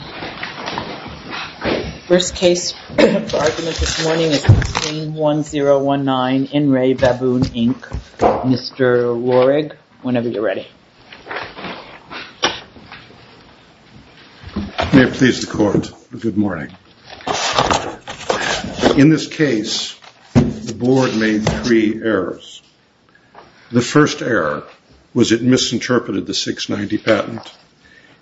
In this case, the board made three errors. The first error was it misinterpreted the 690 patent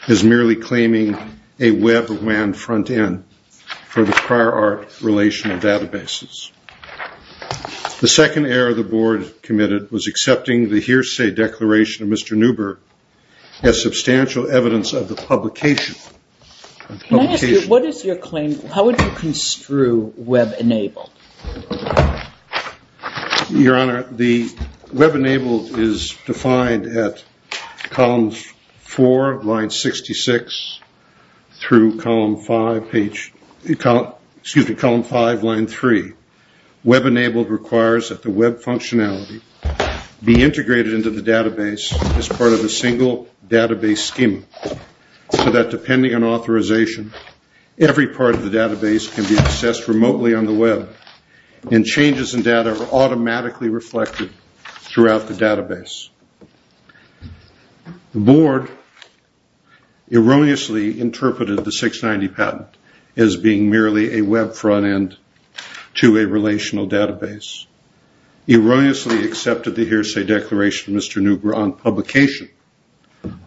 as merely claiming a web WAN front end for the prior art relational databases. The second error the board committed was accepting the hearsay declaration of Mr. Neuber as substantial evidence of the publication. Can I ask you, what is your claim, how would you construe web enabled? Your Honor, the web enabled is defined at columns 4, line 66, through column 5, line 3. Web enabled requires that the web functionality be integrated into the database as part of a single database scheme, so that depending on authorization, every part of the database can be accessed remotely on the web, and changes in data are automatically reflected throughout the database. The board erroneously interpreted the 690 patent as being merely a web front end to a relational database. It erroneously accepted the hearsay declaration of Mr. Neuber on publication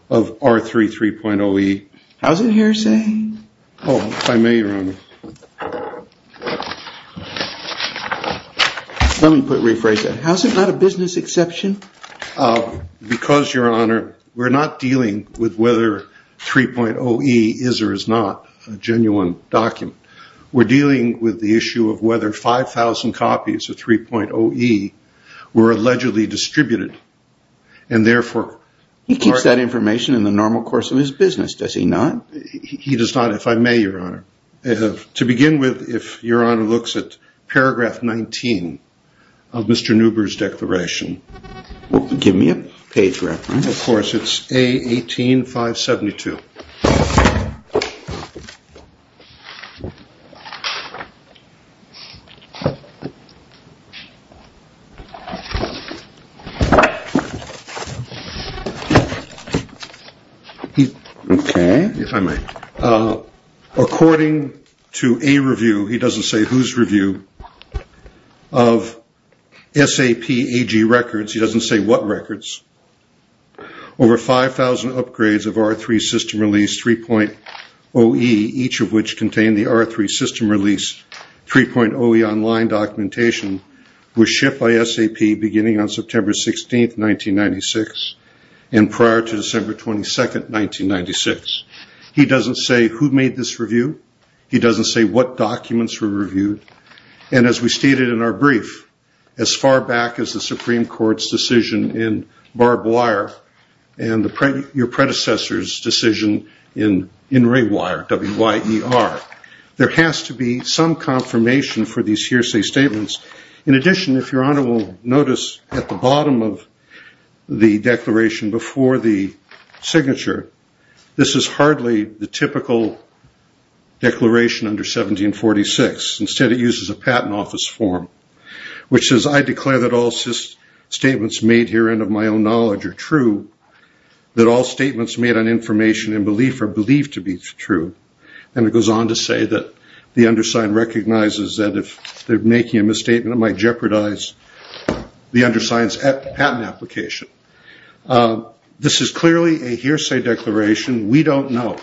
of R33.OE. How is it hearsay? Oh, if I may, Your Honor. Let me rephrase that. How is it not a business exception? Because, Your Honor, we're not dealing with whether 3.OE is or is not a genuine document. We're dealing with the issue of whether 5,000 copies of 3.OE were allegedly distributed, and therefore... He keeps that information in the normal course of his business, does he not? He does not, if I may, Your Honor. To begin with, if Your Honor looks at paragraph 19 of Mr. Neuber's declaration... Give me a page reference. Of course, it's A-18-572. Okay, if I may. According to a review, he doesn't say whose review, of SAP AG records, he doesn't say what records, Over 5,000 upgrades of R3 system release 3.OE, each of which contained the R3 system release 3.OE online documentation, were shipped by SAP beginning on September 16, 1996, and prior to December 22, 1996. He doesn't say who made this review. He doesn't say what documents were reviewed. And as we stated in our brief, as far back as the Supreme Court's decision in Barb Wire, and your predecessor's decision in Ray Wire, W-Y-E-R, there has to be some confirmation for these hearsay statements. In addition, if Your Honor will notice, at the bottom of the declaration before the signature, this is hardly the typical declaration under 1746. Instead, it uses a patent office form, which says, I declare that all statements made herein of my own knowledge are true, that all statements made on information and belief are believed to be true. And it goes on to say that the undersigned recognizes that if they're making a misstatement, it might jeopardize the undersigned's patent application. This is clearly a hearsay declaration. We don't know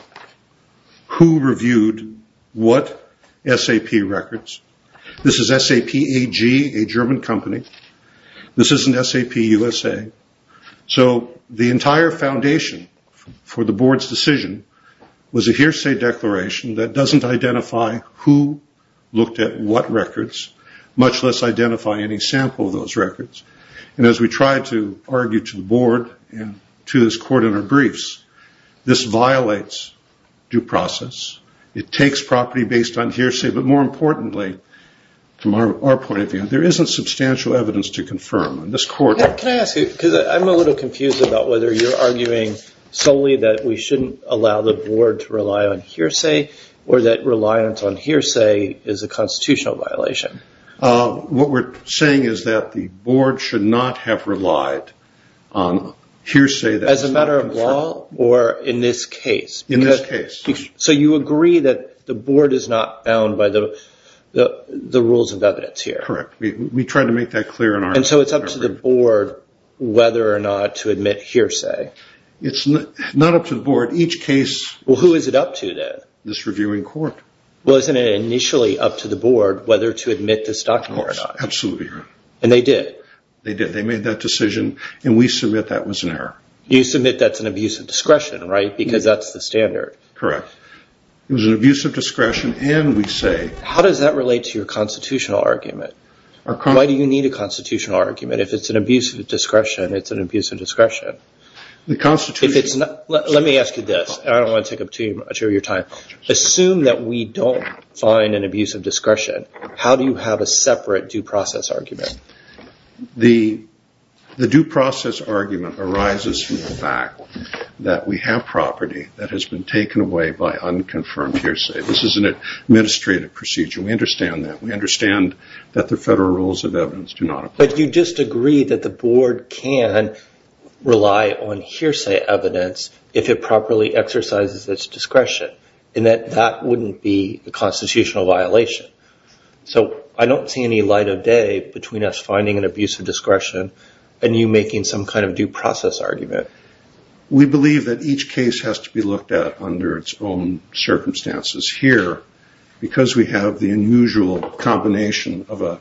who reviewed what SAP records. This is SAP AG, a German company. This isn't SAP USA. So the entire foundation for the Board's decision was a hearsay declaration that doesn't identify who looked at what records, much less identify any sample of those records. And as we try to argue to the Board and to this Court in our briefs, this violates due process. It takes property based on hearsay. But more importantly, from our point of view, there isn't substantial evidence to confirm. And this Court... Can I ask you, because I'm a little confused about whether you're arguing solely that we shouldn't allow the Board to rely on hearsay or that reliance on hearsay is a constitutional violation. What we're saying is that the Board should not have relied on hearsay that is not confirmed. As a matter of law or in this case? In this case. So you agree that the Board is not bound by the rules of evidence here? Correct. We try to make that clear in our... And so it's up to the Board whether or not to admit hearsay? It's not up to the Board. Each case... Well, who is it up to then? This reviewing Court. Well, isn't it initially up to the Board whether to admit this document or not? Absolutely. And they did? They did. They made that decision and we submit that was an error. You submit that's an abuse of discretion, right? Because that's the standard. Correct. It was an abuse of discretion and we say... How does that relate to your constitutional argument? Why do you need a constitutional argument? If it's an abuse of discretion, it's an abuse of discretion. The Constitution... Let me ask you this. I don't want to take up too much of your time. Assume that we don't find an abuse of discretion, how do you have a separate due process argument? The due process argument arises from the fact that we have property that has been taken away by unconfirmed hearsay. This is an administrative procedure. We understand that. We understand that the federal rules of evidence do not apply. But you disagree that the Board can rely on hearsay evidence if it properly exercises its discretion and that that wouldn't be a constitutional violation. So I don't see any light of day between us finding an abuse of discretion and you making some kind of due process argument. We believe that each case has to be looked at under its own circumstances. Here, because we have the unusual combination of a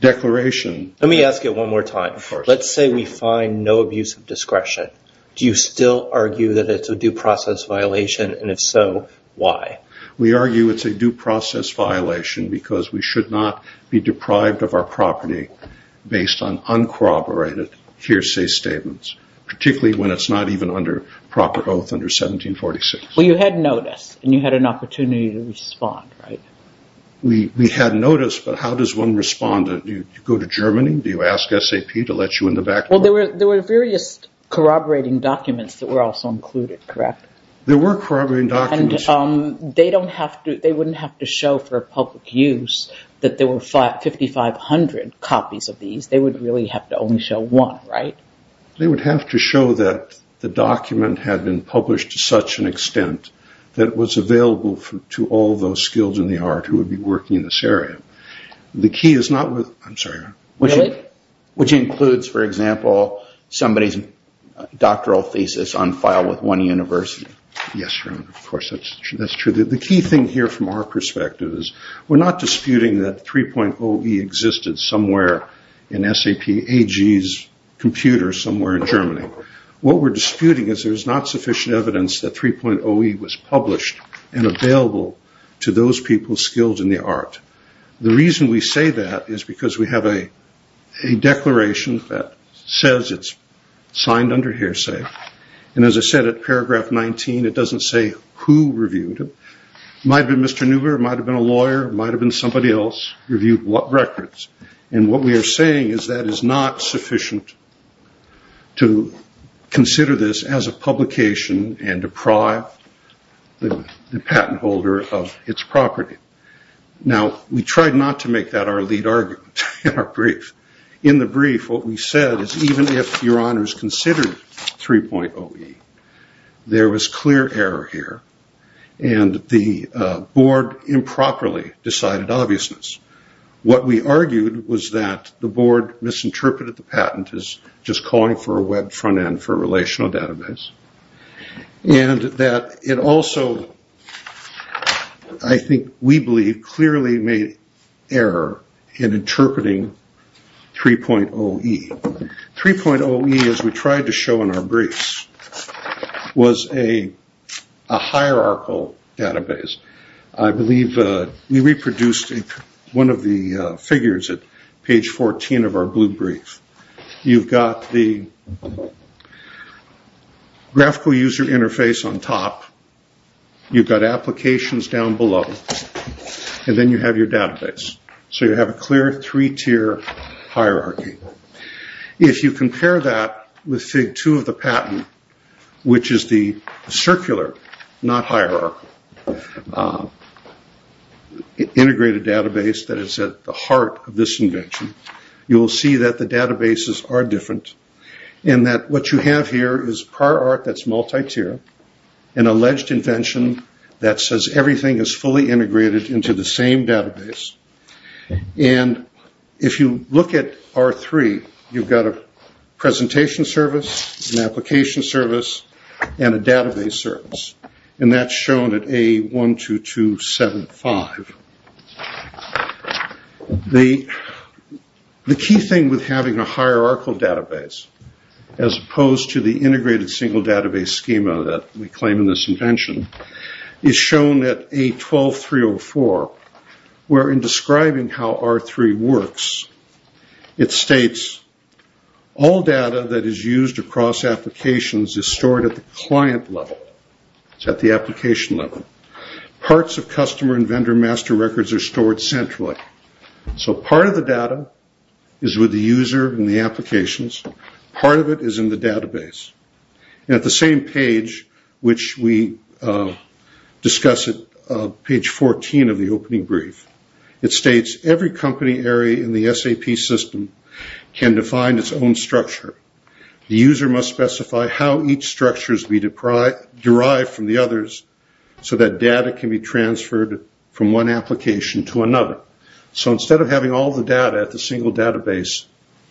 declaration... Let me ask you one more time. Let's say we find no abuse of discretion. Do you still argue that it's a due process violation, and if so, why? We argue it's a due process violation because we should not be deprived of our property based on uncorroborated hearsay statements, particularly when it's not even under proper oath under 1746. Well, you had notice, and you had an opportunity to respond, right? We had notice, but how does one respond? Do you go to Germany? Do you ask SAP to let you in the back door? Well, there were various corroborating documents that were also included, correct? There were corroborating documents. They wouldn't have to show for public use that there were 5,500 copies of these. They would really have to only show one, right? They would have to show that the document had been published to such an extent that it was available to all those skilled in the art who would be working in this area. The key is not with... I'm sorry. Really? Which includes, for example, somebody's doctoral thesis on file with one university. Yes, of course, that's true. The key thing here from our perspective is we're not disputing that 3.0e existed somewhere in SAP AG's computer somewhere in Germany. What we're disputing is there's not sufficient evidence that 3.0e was published and available to those people skilled in the art. The reason we say that is because we have a declaration that says it's signed under hearsay. As I said at paragraph 19, it doesn't say who reviewed it. It might have been Mr. Neuber, it might have been a lawyer, it might have been somebody else reviewed records. What we are saying is that is not sufficient to consider this as a publication and deprive the patent holder of its property. Now, we tried not to make that our lead argument in our brief. In the brief, what we said is even if your honors considered 3.0e, there was clear error here and the board improperly decided obviousness. What we argued was that the board misinterpreted the patent as just calling for a web front end for relational database. And that it also, I think we believe, clearly made error in interpreting 3.0e. 3.0e, as we tried to show in our briefs, was a hierarchical database. I believe we reproduced one of the figures at page 14 of our blue brief. You've got the graphical user interface on top, you've got applications down below, and then you have your database. So you have a clear three-tier hierarchy. If you compare that with Fig. 2 of the patent, which is the circular, not hierarchical, integrated database that is at the heart of this invention, you will see that the databases are different. And that what you have here is prior art that's multi-tier, an alleged invention that says everything is fully integrated into the same database. And if you look at R3, you've got a presentation service, an application service, and a database service. And that's shown at A12275. The key thing with having a hierarchical database, as opposed to the integrated single database schema that we claim in this invention, is shown at A12304, where in describing how R3 works, it states all data that is used across applications is stored at the client level. It's at the application level. Parts of customer and vendor master records are stored centrally. So part of the data is with the user and the applications. Part of it is in the database. At the same page, which we discuss at page 14 of the opening brief, it states every company area in the SAP system can define its own structure. The user must specify how each structure is derived from the others so that data can be transferred from one application to another. So instead of having all the data at the single database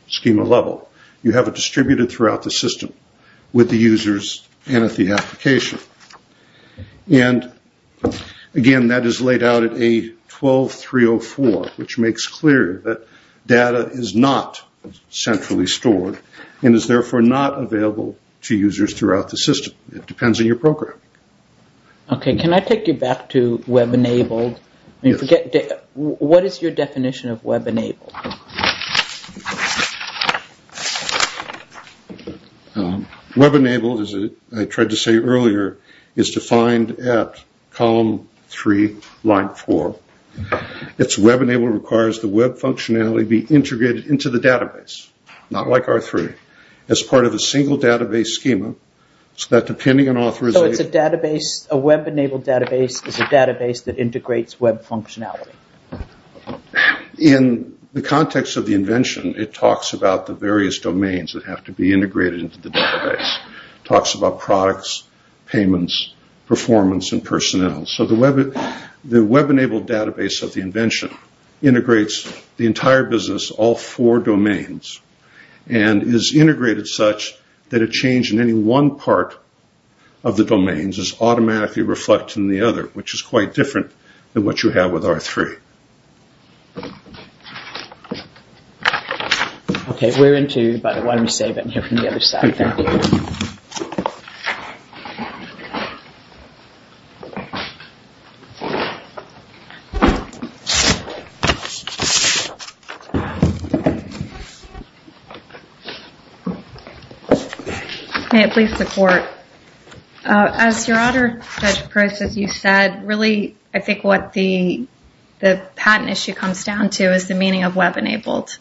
schema level, you have it distributed throughout the system with the users and at the application. And, again, that is laid out at A12304, which makes clear that data is not centrally stored and is therefore not available to users throughout the system. It depends on your program. Okay, can I take you back to web-enabled? What is your definition of web-enabled? Web-enabled, as I tried to say earlier, is defined at column 3, line 4. It's web-enabled requires the web functionality be integrated into the database, not like R3, as part of a single database schema So it's a database, a web-enabled database is a database that integrates web functionality. In the context of the invention, it talks about the various domains that have to be integrated into the database. It talks about products, payments, performance, and personnel. So the web-enabled database of the invention integrates the entire business, all four domains, and is integrated such that a change in any one part of the domains is automatically reflected in the other, which is quite different than what you have with R3. Okay, we're into, but why don't we save it and hear from the other side. May it please the court. As your honor, Judge Price, as you said, really, I think what the patent issue comes down to is the meaning of web-enabled.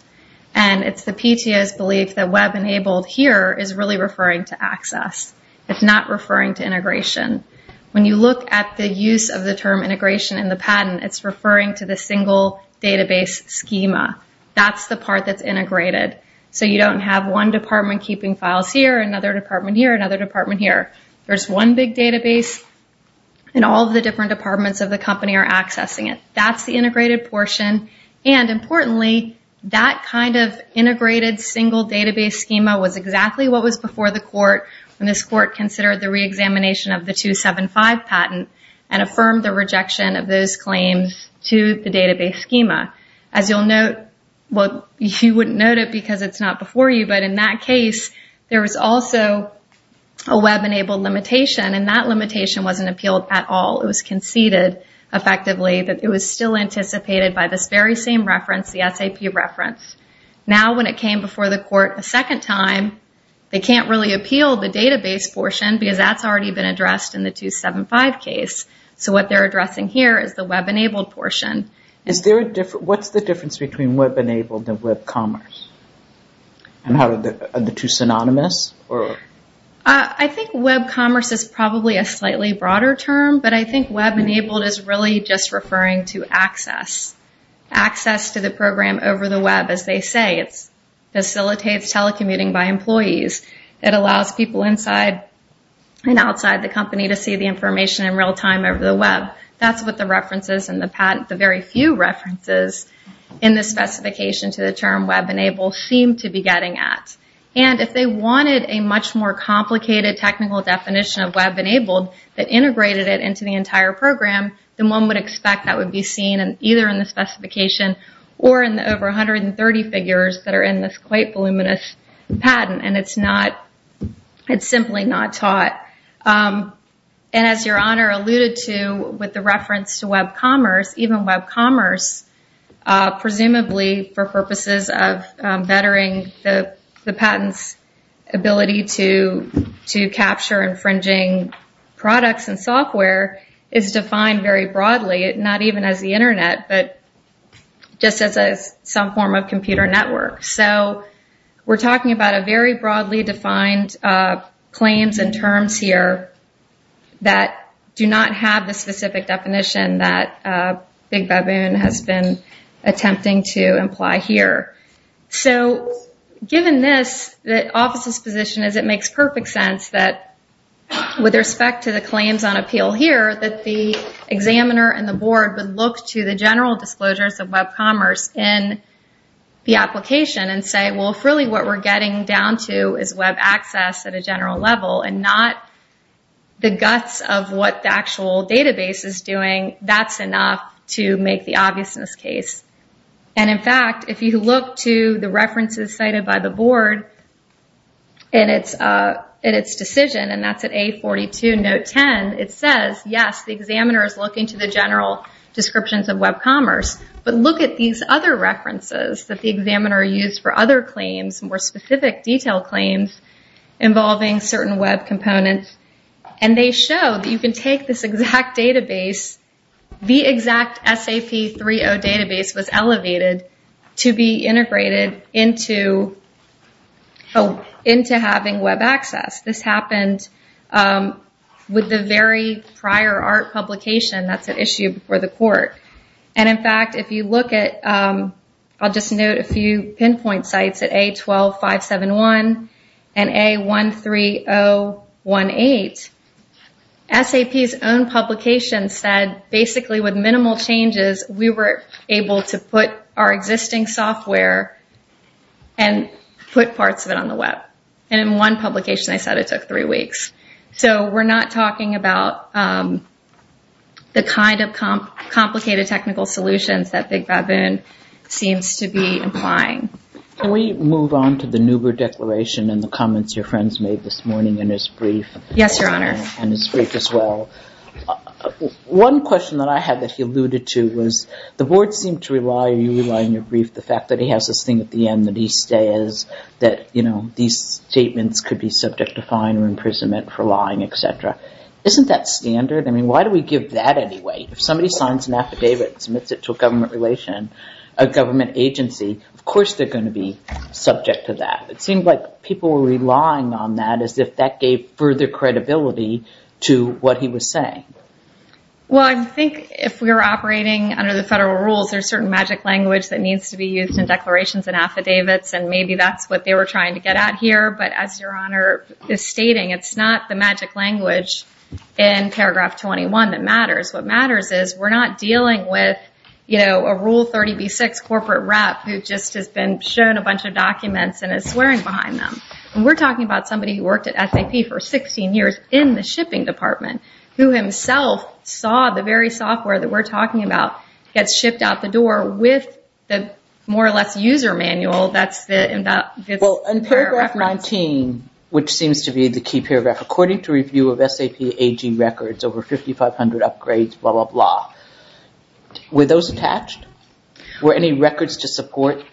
And it's the PTA's belief that web-enabled here is really referring to access. It's not referring to integration. When you look at the use of the term integration in the patent, it's referring to the single database schema. That's the part that's integrated. So you don't have one department keeping files here, another department here, another department here. There's one big database, and all of the different departments of the company are accessing it. That's the integrated portion. And importantly, that kind of integrated single database schema was exactly what was before the court when this court considered the reexamination of the 275 patent and affirmed the rejection of those claims to the database schema. As you'll note, well, you wouldn't note it because it's not before you, but in that case, there was also a web-enabled limitation, and that limitation wasn't appealed at all. It was conceded, effectively, that it was still anticipated by this very same reference, the SAP reference. Now when it came before the court a second time, they can't really appeal the database portion because that's already been addressed in the 275 case. So what they're addressing here is the web-enabled portion. What's the difference between web-enabled and web commerce? Are the two synonymous? I think web commerce is probably a slightly broader term, but I think web-enabled is really just referring to access, access to the program over the web, as they say. It facilitates telecommuting by employees. It allows people inside and outside the company to see the information in real time over the web. That's what the references in the patent, the very few references in the specification to the term web-enabled, seem to be getting at. And if they wanted a much more complicated technical definition of web-enabled that integrated it into the entire program, then one would expect that would be seen either in the specification or in the over 130 figures that are in this quite voluminous patent, and it's simply not taught. And as Your Honor alluded to with the reference to web commerce, even web commerce, presumably for purposes of bettering the patent's ability to capture infringing products and software, is defined very broadly, not even as the Internet, but just as some form of computer network. So we're talking about a very broadly defined claims and terms here that do not have the specific definition that Big Baboon has been attempting to imply here. So given this, the office's position is it makes perfect sense that with respect to the claims on appeal here, that the examiner and the board would look to the general disclosures of web commerce in the application and say, well, if really what we're getting down to is web access at a general level and not the guts of what the actual database is doing, that's enough to make the obviousness case. And in fact, if you look to the references cited by the board in its decision, and that's at A42 note 10, it says, yes, the examiner is looking to the general descriptions of web commerce, but look at these other references that the examiner used for other claims, more specific detail claims involving certain web components, and they show that you can take this exact database, the exact SAP 3.0 database was elevated to be integrated into having web access. This happened with the very prior art publication, that's an issue before the court. And in fact, if you look at, I'll just note a few pinpoint sites, at A12571 and A13018, SAP's own publication said basically with minimal changes, we were able to put our existing software and put parts of it on the web. And in one publication they said it took three weeks. So we're not talking about the kind of complicated technical solutions that Big Baboon seems to be implying. Can we move on to the Nuber declaration and the comments your friends made this morning in his brief? Yes, Your Honor. And his brief as well. One question that I had that he alluded to was the board seemed to rely, you rely on your brief, the fact that he has this thing at the end that he says that these statements could be subject to fine or imprisonment for lying, et cetera. Isn't that standard? I mean, why do we give that anyway? If somebody signs an affidavit and submits it to a government relation, a government agency, of course they're going to be subject to that. It seemed like people were relying on that as if that gave further credibility to what he was saying. Well, I think if we were operating under the federal rules, there's certain magic language that needs to be used in declarations and affidavits, and maybe that's what they were trying to get at here. But as Your Honor is stating, it's not the magic language in Paragraph 21 that matters. What matters is we're not dealing with a Rule 30b-6 corporate rep who just has been shown a bunch of documents and is swearing behind them. We're talking about somebody who worked at SAP for 16 years in the shipping department who himself saw the very software that we're talking about get shipped out the door with the more or less user manual. Well, in Paragraph 19, which seems to be the key paragraph, according to review of SAP AG records over 5,500 upgrades, blah, blah, blah. Were those attached? Were any records to support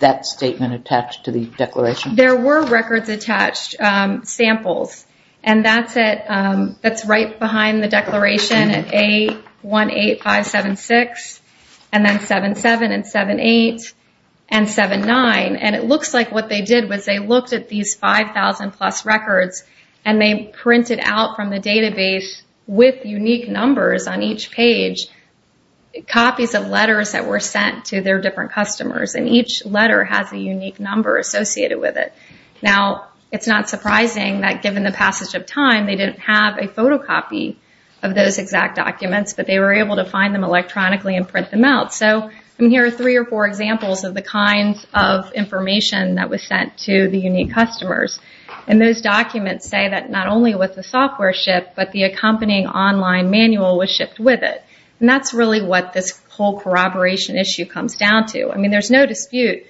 that statement attached to the declaration? There were records attached, samples, and that's right behind the declaration at A18576 and then 77 and 78 and 79. And it looks like what they did was they looked at these 5,000-plus records and they printed out from the database with unique numbers on each page copies of letters that were sent to their different customers, and each letter has a unique number associated with it. Now, it's not surprising that given the passage of time, they didn't have a photocopy of those exact documents, but they were able to find them electronically and print them out. So here are three or four examples of the kinds of information that was sent to the unique customers. And those documents say that not only was the software shipped, but the accompanying online manual was shipped with it. And that's really what this whole corroboration issue comes down to. I mean, there's no dispute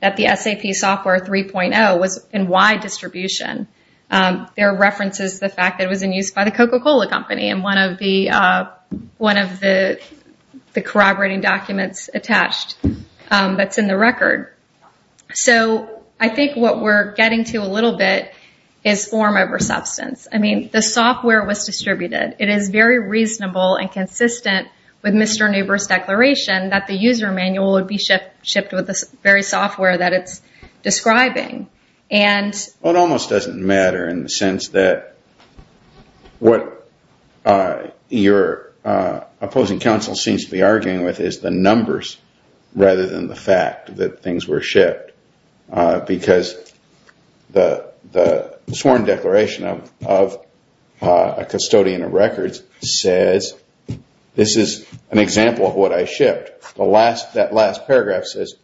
that the SAP Software 3.0 was in wide distribution. There are references to the fact that it was in use by the Coca-Cola company in one of the corroborating documents attached that's in the record. So I think what we're getting to a little bit is form over substance. I mean, the software was distributed. It is very reasonable and consistent with Mr. Neuber's declaration that the user manual would be shipped with the very software that it's describing. It almost doesn't matter in the sense that what your opposing counsel seems to be arguing with is the numbers rather than the fact that things were shipped because the sworn declaration of a custodian of records says this is an example of what I shipped. That last paragraph says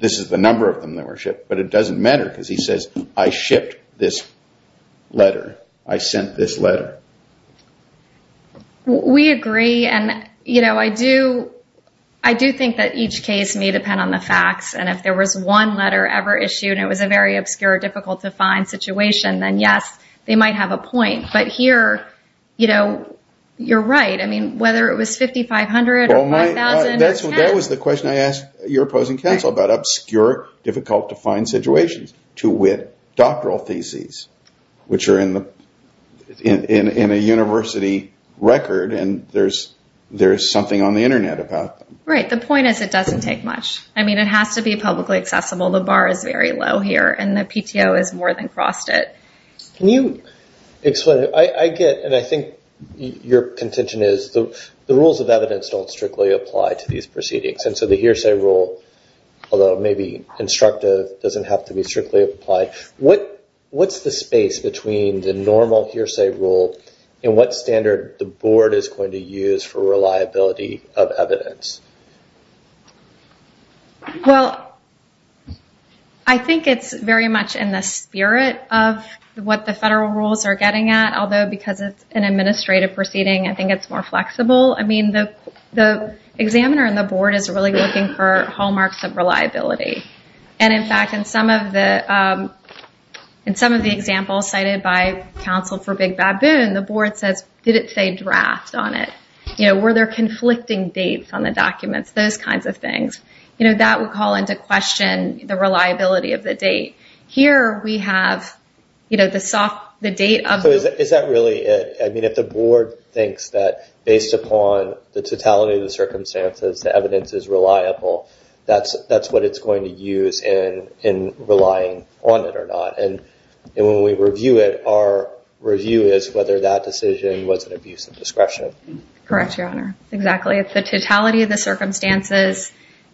this is the number of them that were shipped, but it doesn't matter because he says, I shipped this letter. I sent this letter. We agree, and I do think that each case may depend on the facts, and if there was one letter ever issued and it was a very obscure, difficult to find situation, then yes, they might have a point. But here, you're right. I mean, whether it was 5,500 or 5,000 or 10. That was the question I asked your opposing counsel about obscure, difficult to find situations to wit doctoral theses, which are in a university record, and there's something on the Internet about them. Right. The point is it doesn't take much. I mean, it has to be publicly accessible. The bar is very low here, and the PTO has more than crossed it. Can you explain it? I get, and I think your contention is the rules of evidence don't strictly apply to these proceedings, and so the hearsay rule, although maybe instructive, doesn't have to be strictly applied. What's the space between the normal hearsay rule and what standard the board is going to use for reliability of evidence? Well, I think it's very much in the spirit of what the federal rules are getting at, although because it's an administrative proceeding, I think it's more flexible. I mean, the examiner and the board is really looking for hallmarks of reliability, and in fact, in some of the examples cited by counsel for Big Baboon, the board says, did it say draft on it? You know, were there conflicting dates on the documents? Those kinds of things. You know, that would call into question the reliability of the date. Here we have, you know, the date of the- So is that really it? I mean, if the board thinks that based upon the totality of the circumstances, the evidence is reliable, that's what it's going to use in relying on it or not, and when we review it, our review is whether that decision was an abuse of discretion. Correct, Your Honor. Exactly. It's the totality of the circumstances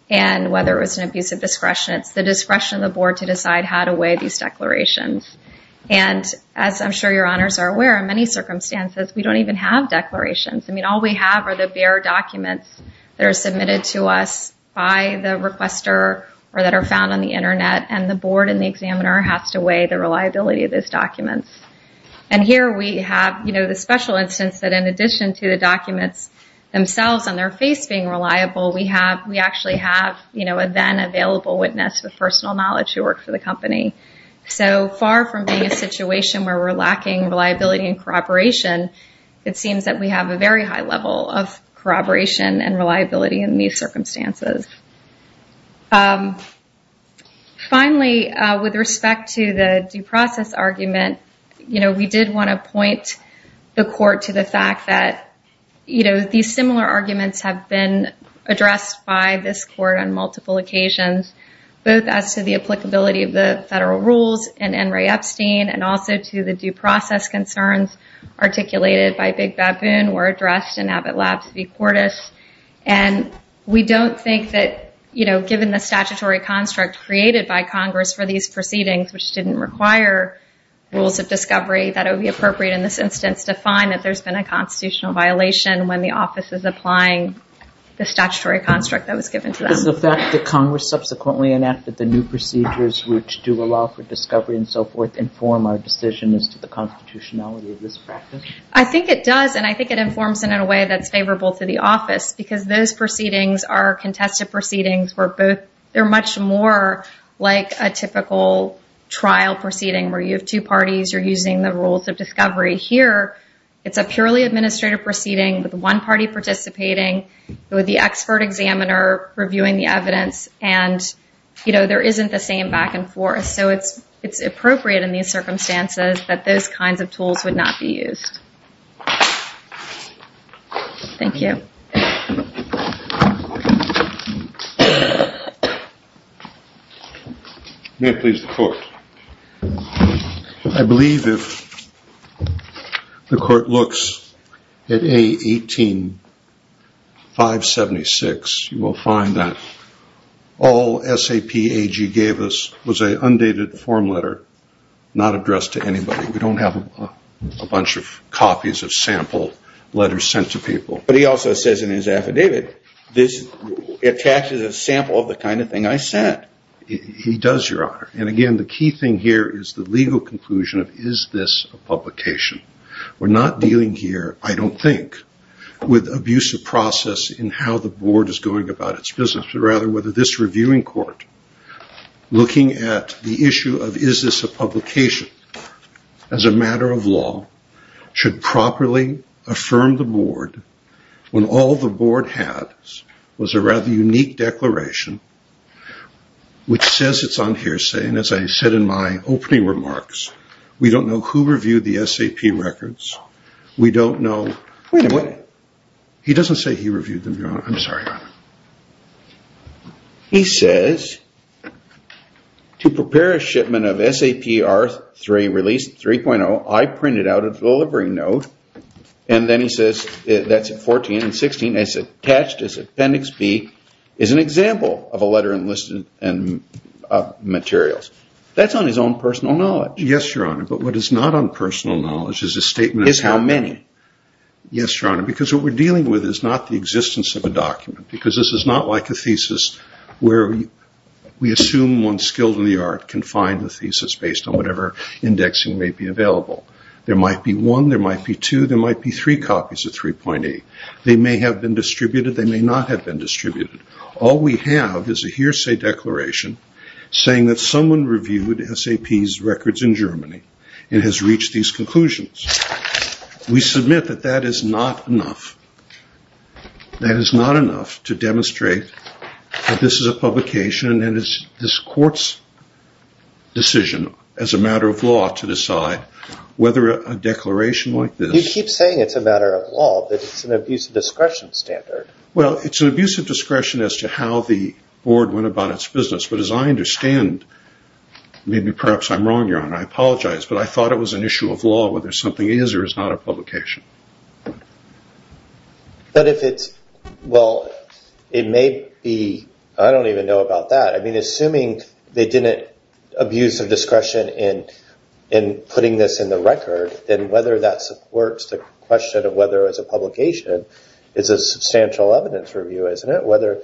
and whether it was an abuse of discretion. It's the discretion of the board to decide how to weigh these declarations. And as I'm sure Your Honors are aware, in many circumstances, we don't even have declarations. I mean, all we have are the bare documents that are submitted to us by the requester or that are found on the Internet, and the board and the examiner have to weigh the reliability of those documents. And here we have, you know, the special instance that, in addition to the documents themselves and their face being reliable, we actually have a then available witness with personal knowledge who worked for the company. So far from being a situation where we're lacking reliability and corroboration, it seems that we have a very high level of corroboration and reliability in these circumstances. Finally, with respect to the due process argument, you know, we did want to point the court to the fact that, you know, that these similar arguments have been addressed by this court on multiple occasions, both as to the applicability of the federal rules in N. Ray Epstein and also to the due process concerns articulated by Big Baboon were addressed in Abbott Labs v. Cordish. And we don't think that, you know, given the statutory construct created by Congress for these proceedings, which didn't require rules of discovery, that it would be appropriate in this instance that it's defined that there's been a constitutional violation when the office is applying the statutory construct that was given to them. Does the fact that Congress subsequently enacted the new procedures, which do allow for discovery and so forth, inform our decision as to the constitutionality of this practice? I think it does, and I think it informs it in a way that's favorable to the office, because those proceedings are contested proceedings where both, they're much more like a typical trial proceeding where you have two parties, you're using the rules of discovery. Here, it's a purely administrative proceeding with one party participating, with the expert examiner reviewing the evidence, and, you know, there isn't the same back and forth. So it's appropriate in these circumstances that those kinds of tools would not be used. Thank you. May it please the Court. I believe if the Court looks at A18576, you will find that all SAP AG gave us was an undated form letter, not addressed to anybody. We don't have a bunch of copies of sample letters sent to people. But he also says in his affidavit, this attaches a sample of the kind of thing I sent. He does, Your Honor. And, again, the key thing here is the legal conclusion of is this a publication. We're not dealing here, I don't think, with abusive process in how the Board is going about its business, but rather whether this reviewing court, looking at the issue of is this a publication as a matter of law, should properly affirm the Board when all the Board had was a rather unique declaration which says it's on hearsay. And as I said in my opening remarks, we don't know who reviewed the SAP records. We don't know. Wait a minute. He doesn't say he reviewed them, Your Honor. I'm sorry, Your Honor. He says, to prepare a shipment of SAP R3 release 3.0, I printed out a delivery note. And then he says, that's at 14 and 16, and it's attached as Appendix B is an example of a letter enlisted in materials. That's on his own personal knowledge. Yes, Your Honor. But what is not on personal knowledge is a statement of how many. Yes, Your Honor. Because what we're dealing with is not the existence of a document. Because this is not like a thesis where we assume one skilled in the art can find the thesis based on whatever indexing may be available. There might be one, there might be two, there might be three copies of 3.8. They may have been distributed, they may not have been distributed. All we have is a hearsay declaration saying that someone reviewed SAP's records in Germany and has reached these conclusions. We submit that that is not enough. That is not enough to demonstrate that this is a publication and it's this court's decision as a matter of law to decide whether a declaration like this. But you keep saying it's a matter of law, that it's an abuse of discretion standard. Well, it's an abuse of discretion as to how the board went about its business. But as I understand, maybe perhaps I'm wrong, Your Honor, I apologize, but I thought it was an issue of law whether something is or is not a publication. But if it's, well, it may be, I don't even know about that. I mean, assuming they didn't abuse of discretion in putting this in the record, then whether that supports the question of whether it's a publication is a substantial evidence review, isn't it? Whether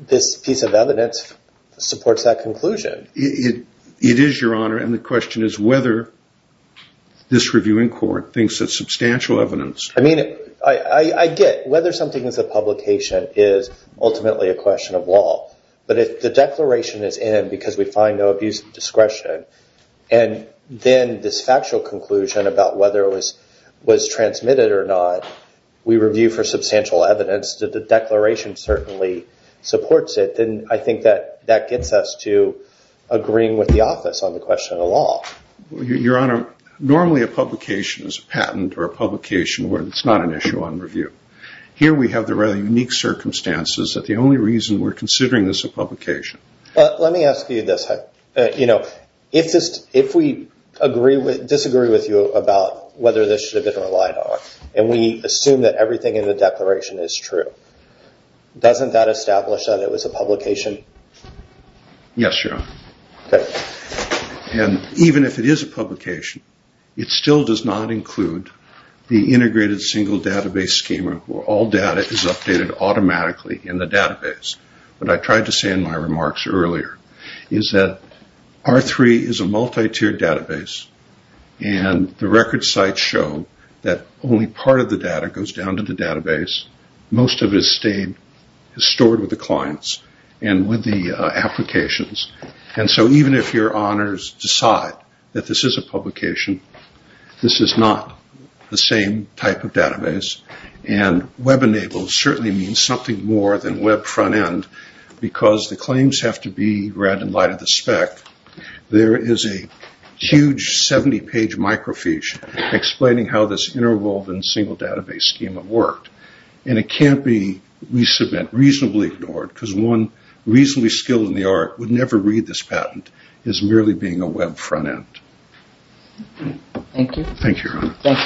this piece of evidence supports that conclusion. It is, Your Honor, and the question is whether this review in court thinks it's substantial evidence. I mean, I get whether something is a publication is ultimately a question of law. But if the declaration is in because we find no abuse of discretion and then this factual conclusion about whether it was transmitted or not, we review for substantial evidence that the declaration certainly supports it, then I think that gets us to agreeing with the office on the question of law. Your Honor, normally a publication is a patent or a publication where it's not an issue on review. Here we have the rather unique circumstances that the only reason we're considering this a publication. Let me ask you this. If we disagree with you about whether this should have been relied on and we assume that everything in the declaration is true, doesn't that establish that it was a publication? Yes, Your Honor. Even if it is a publication, it still does not include the integrated single database schema where all data is updated automatically in the database. What I tried to say in my remarks earlier is that R3 is a multi-tiered database and the record sites show that only part of the data goes down to the database. Most of it is stored with the clients and with the applications. So even if Your Honors decide that this is a publication, this is not the same type of database. Web-enabled certainly means something more than web front-end because the claims have to be read in light of the spec. There is a huge 70-page microfiche explaining how this interwoven single database schema worked. It can't be reasonably ignored because one reasonably skilled in the art would never read this patent as merely being a web front-end. Thank you. Thank you, Your Honor. Thank you, Judge Harding. The case is submitted.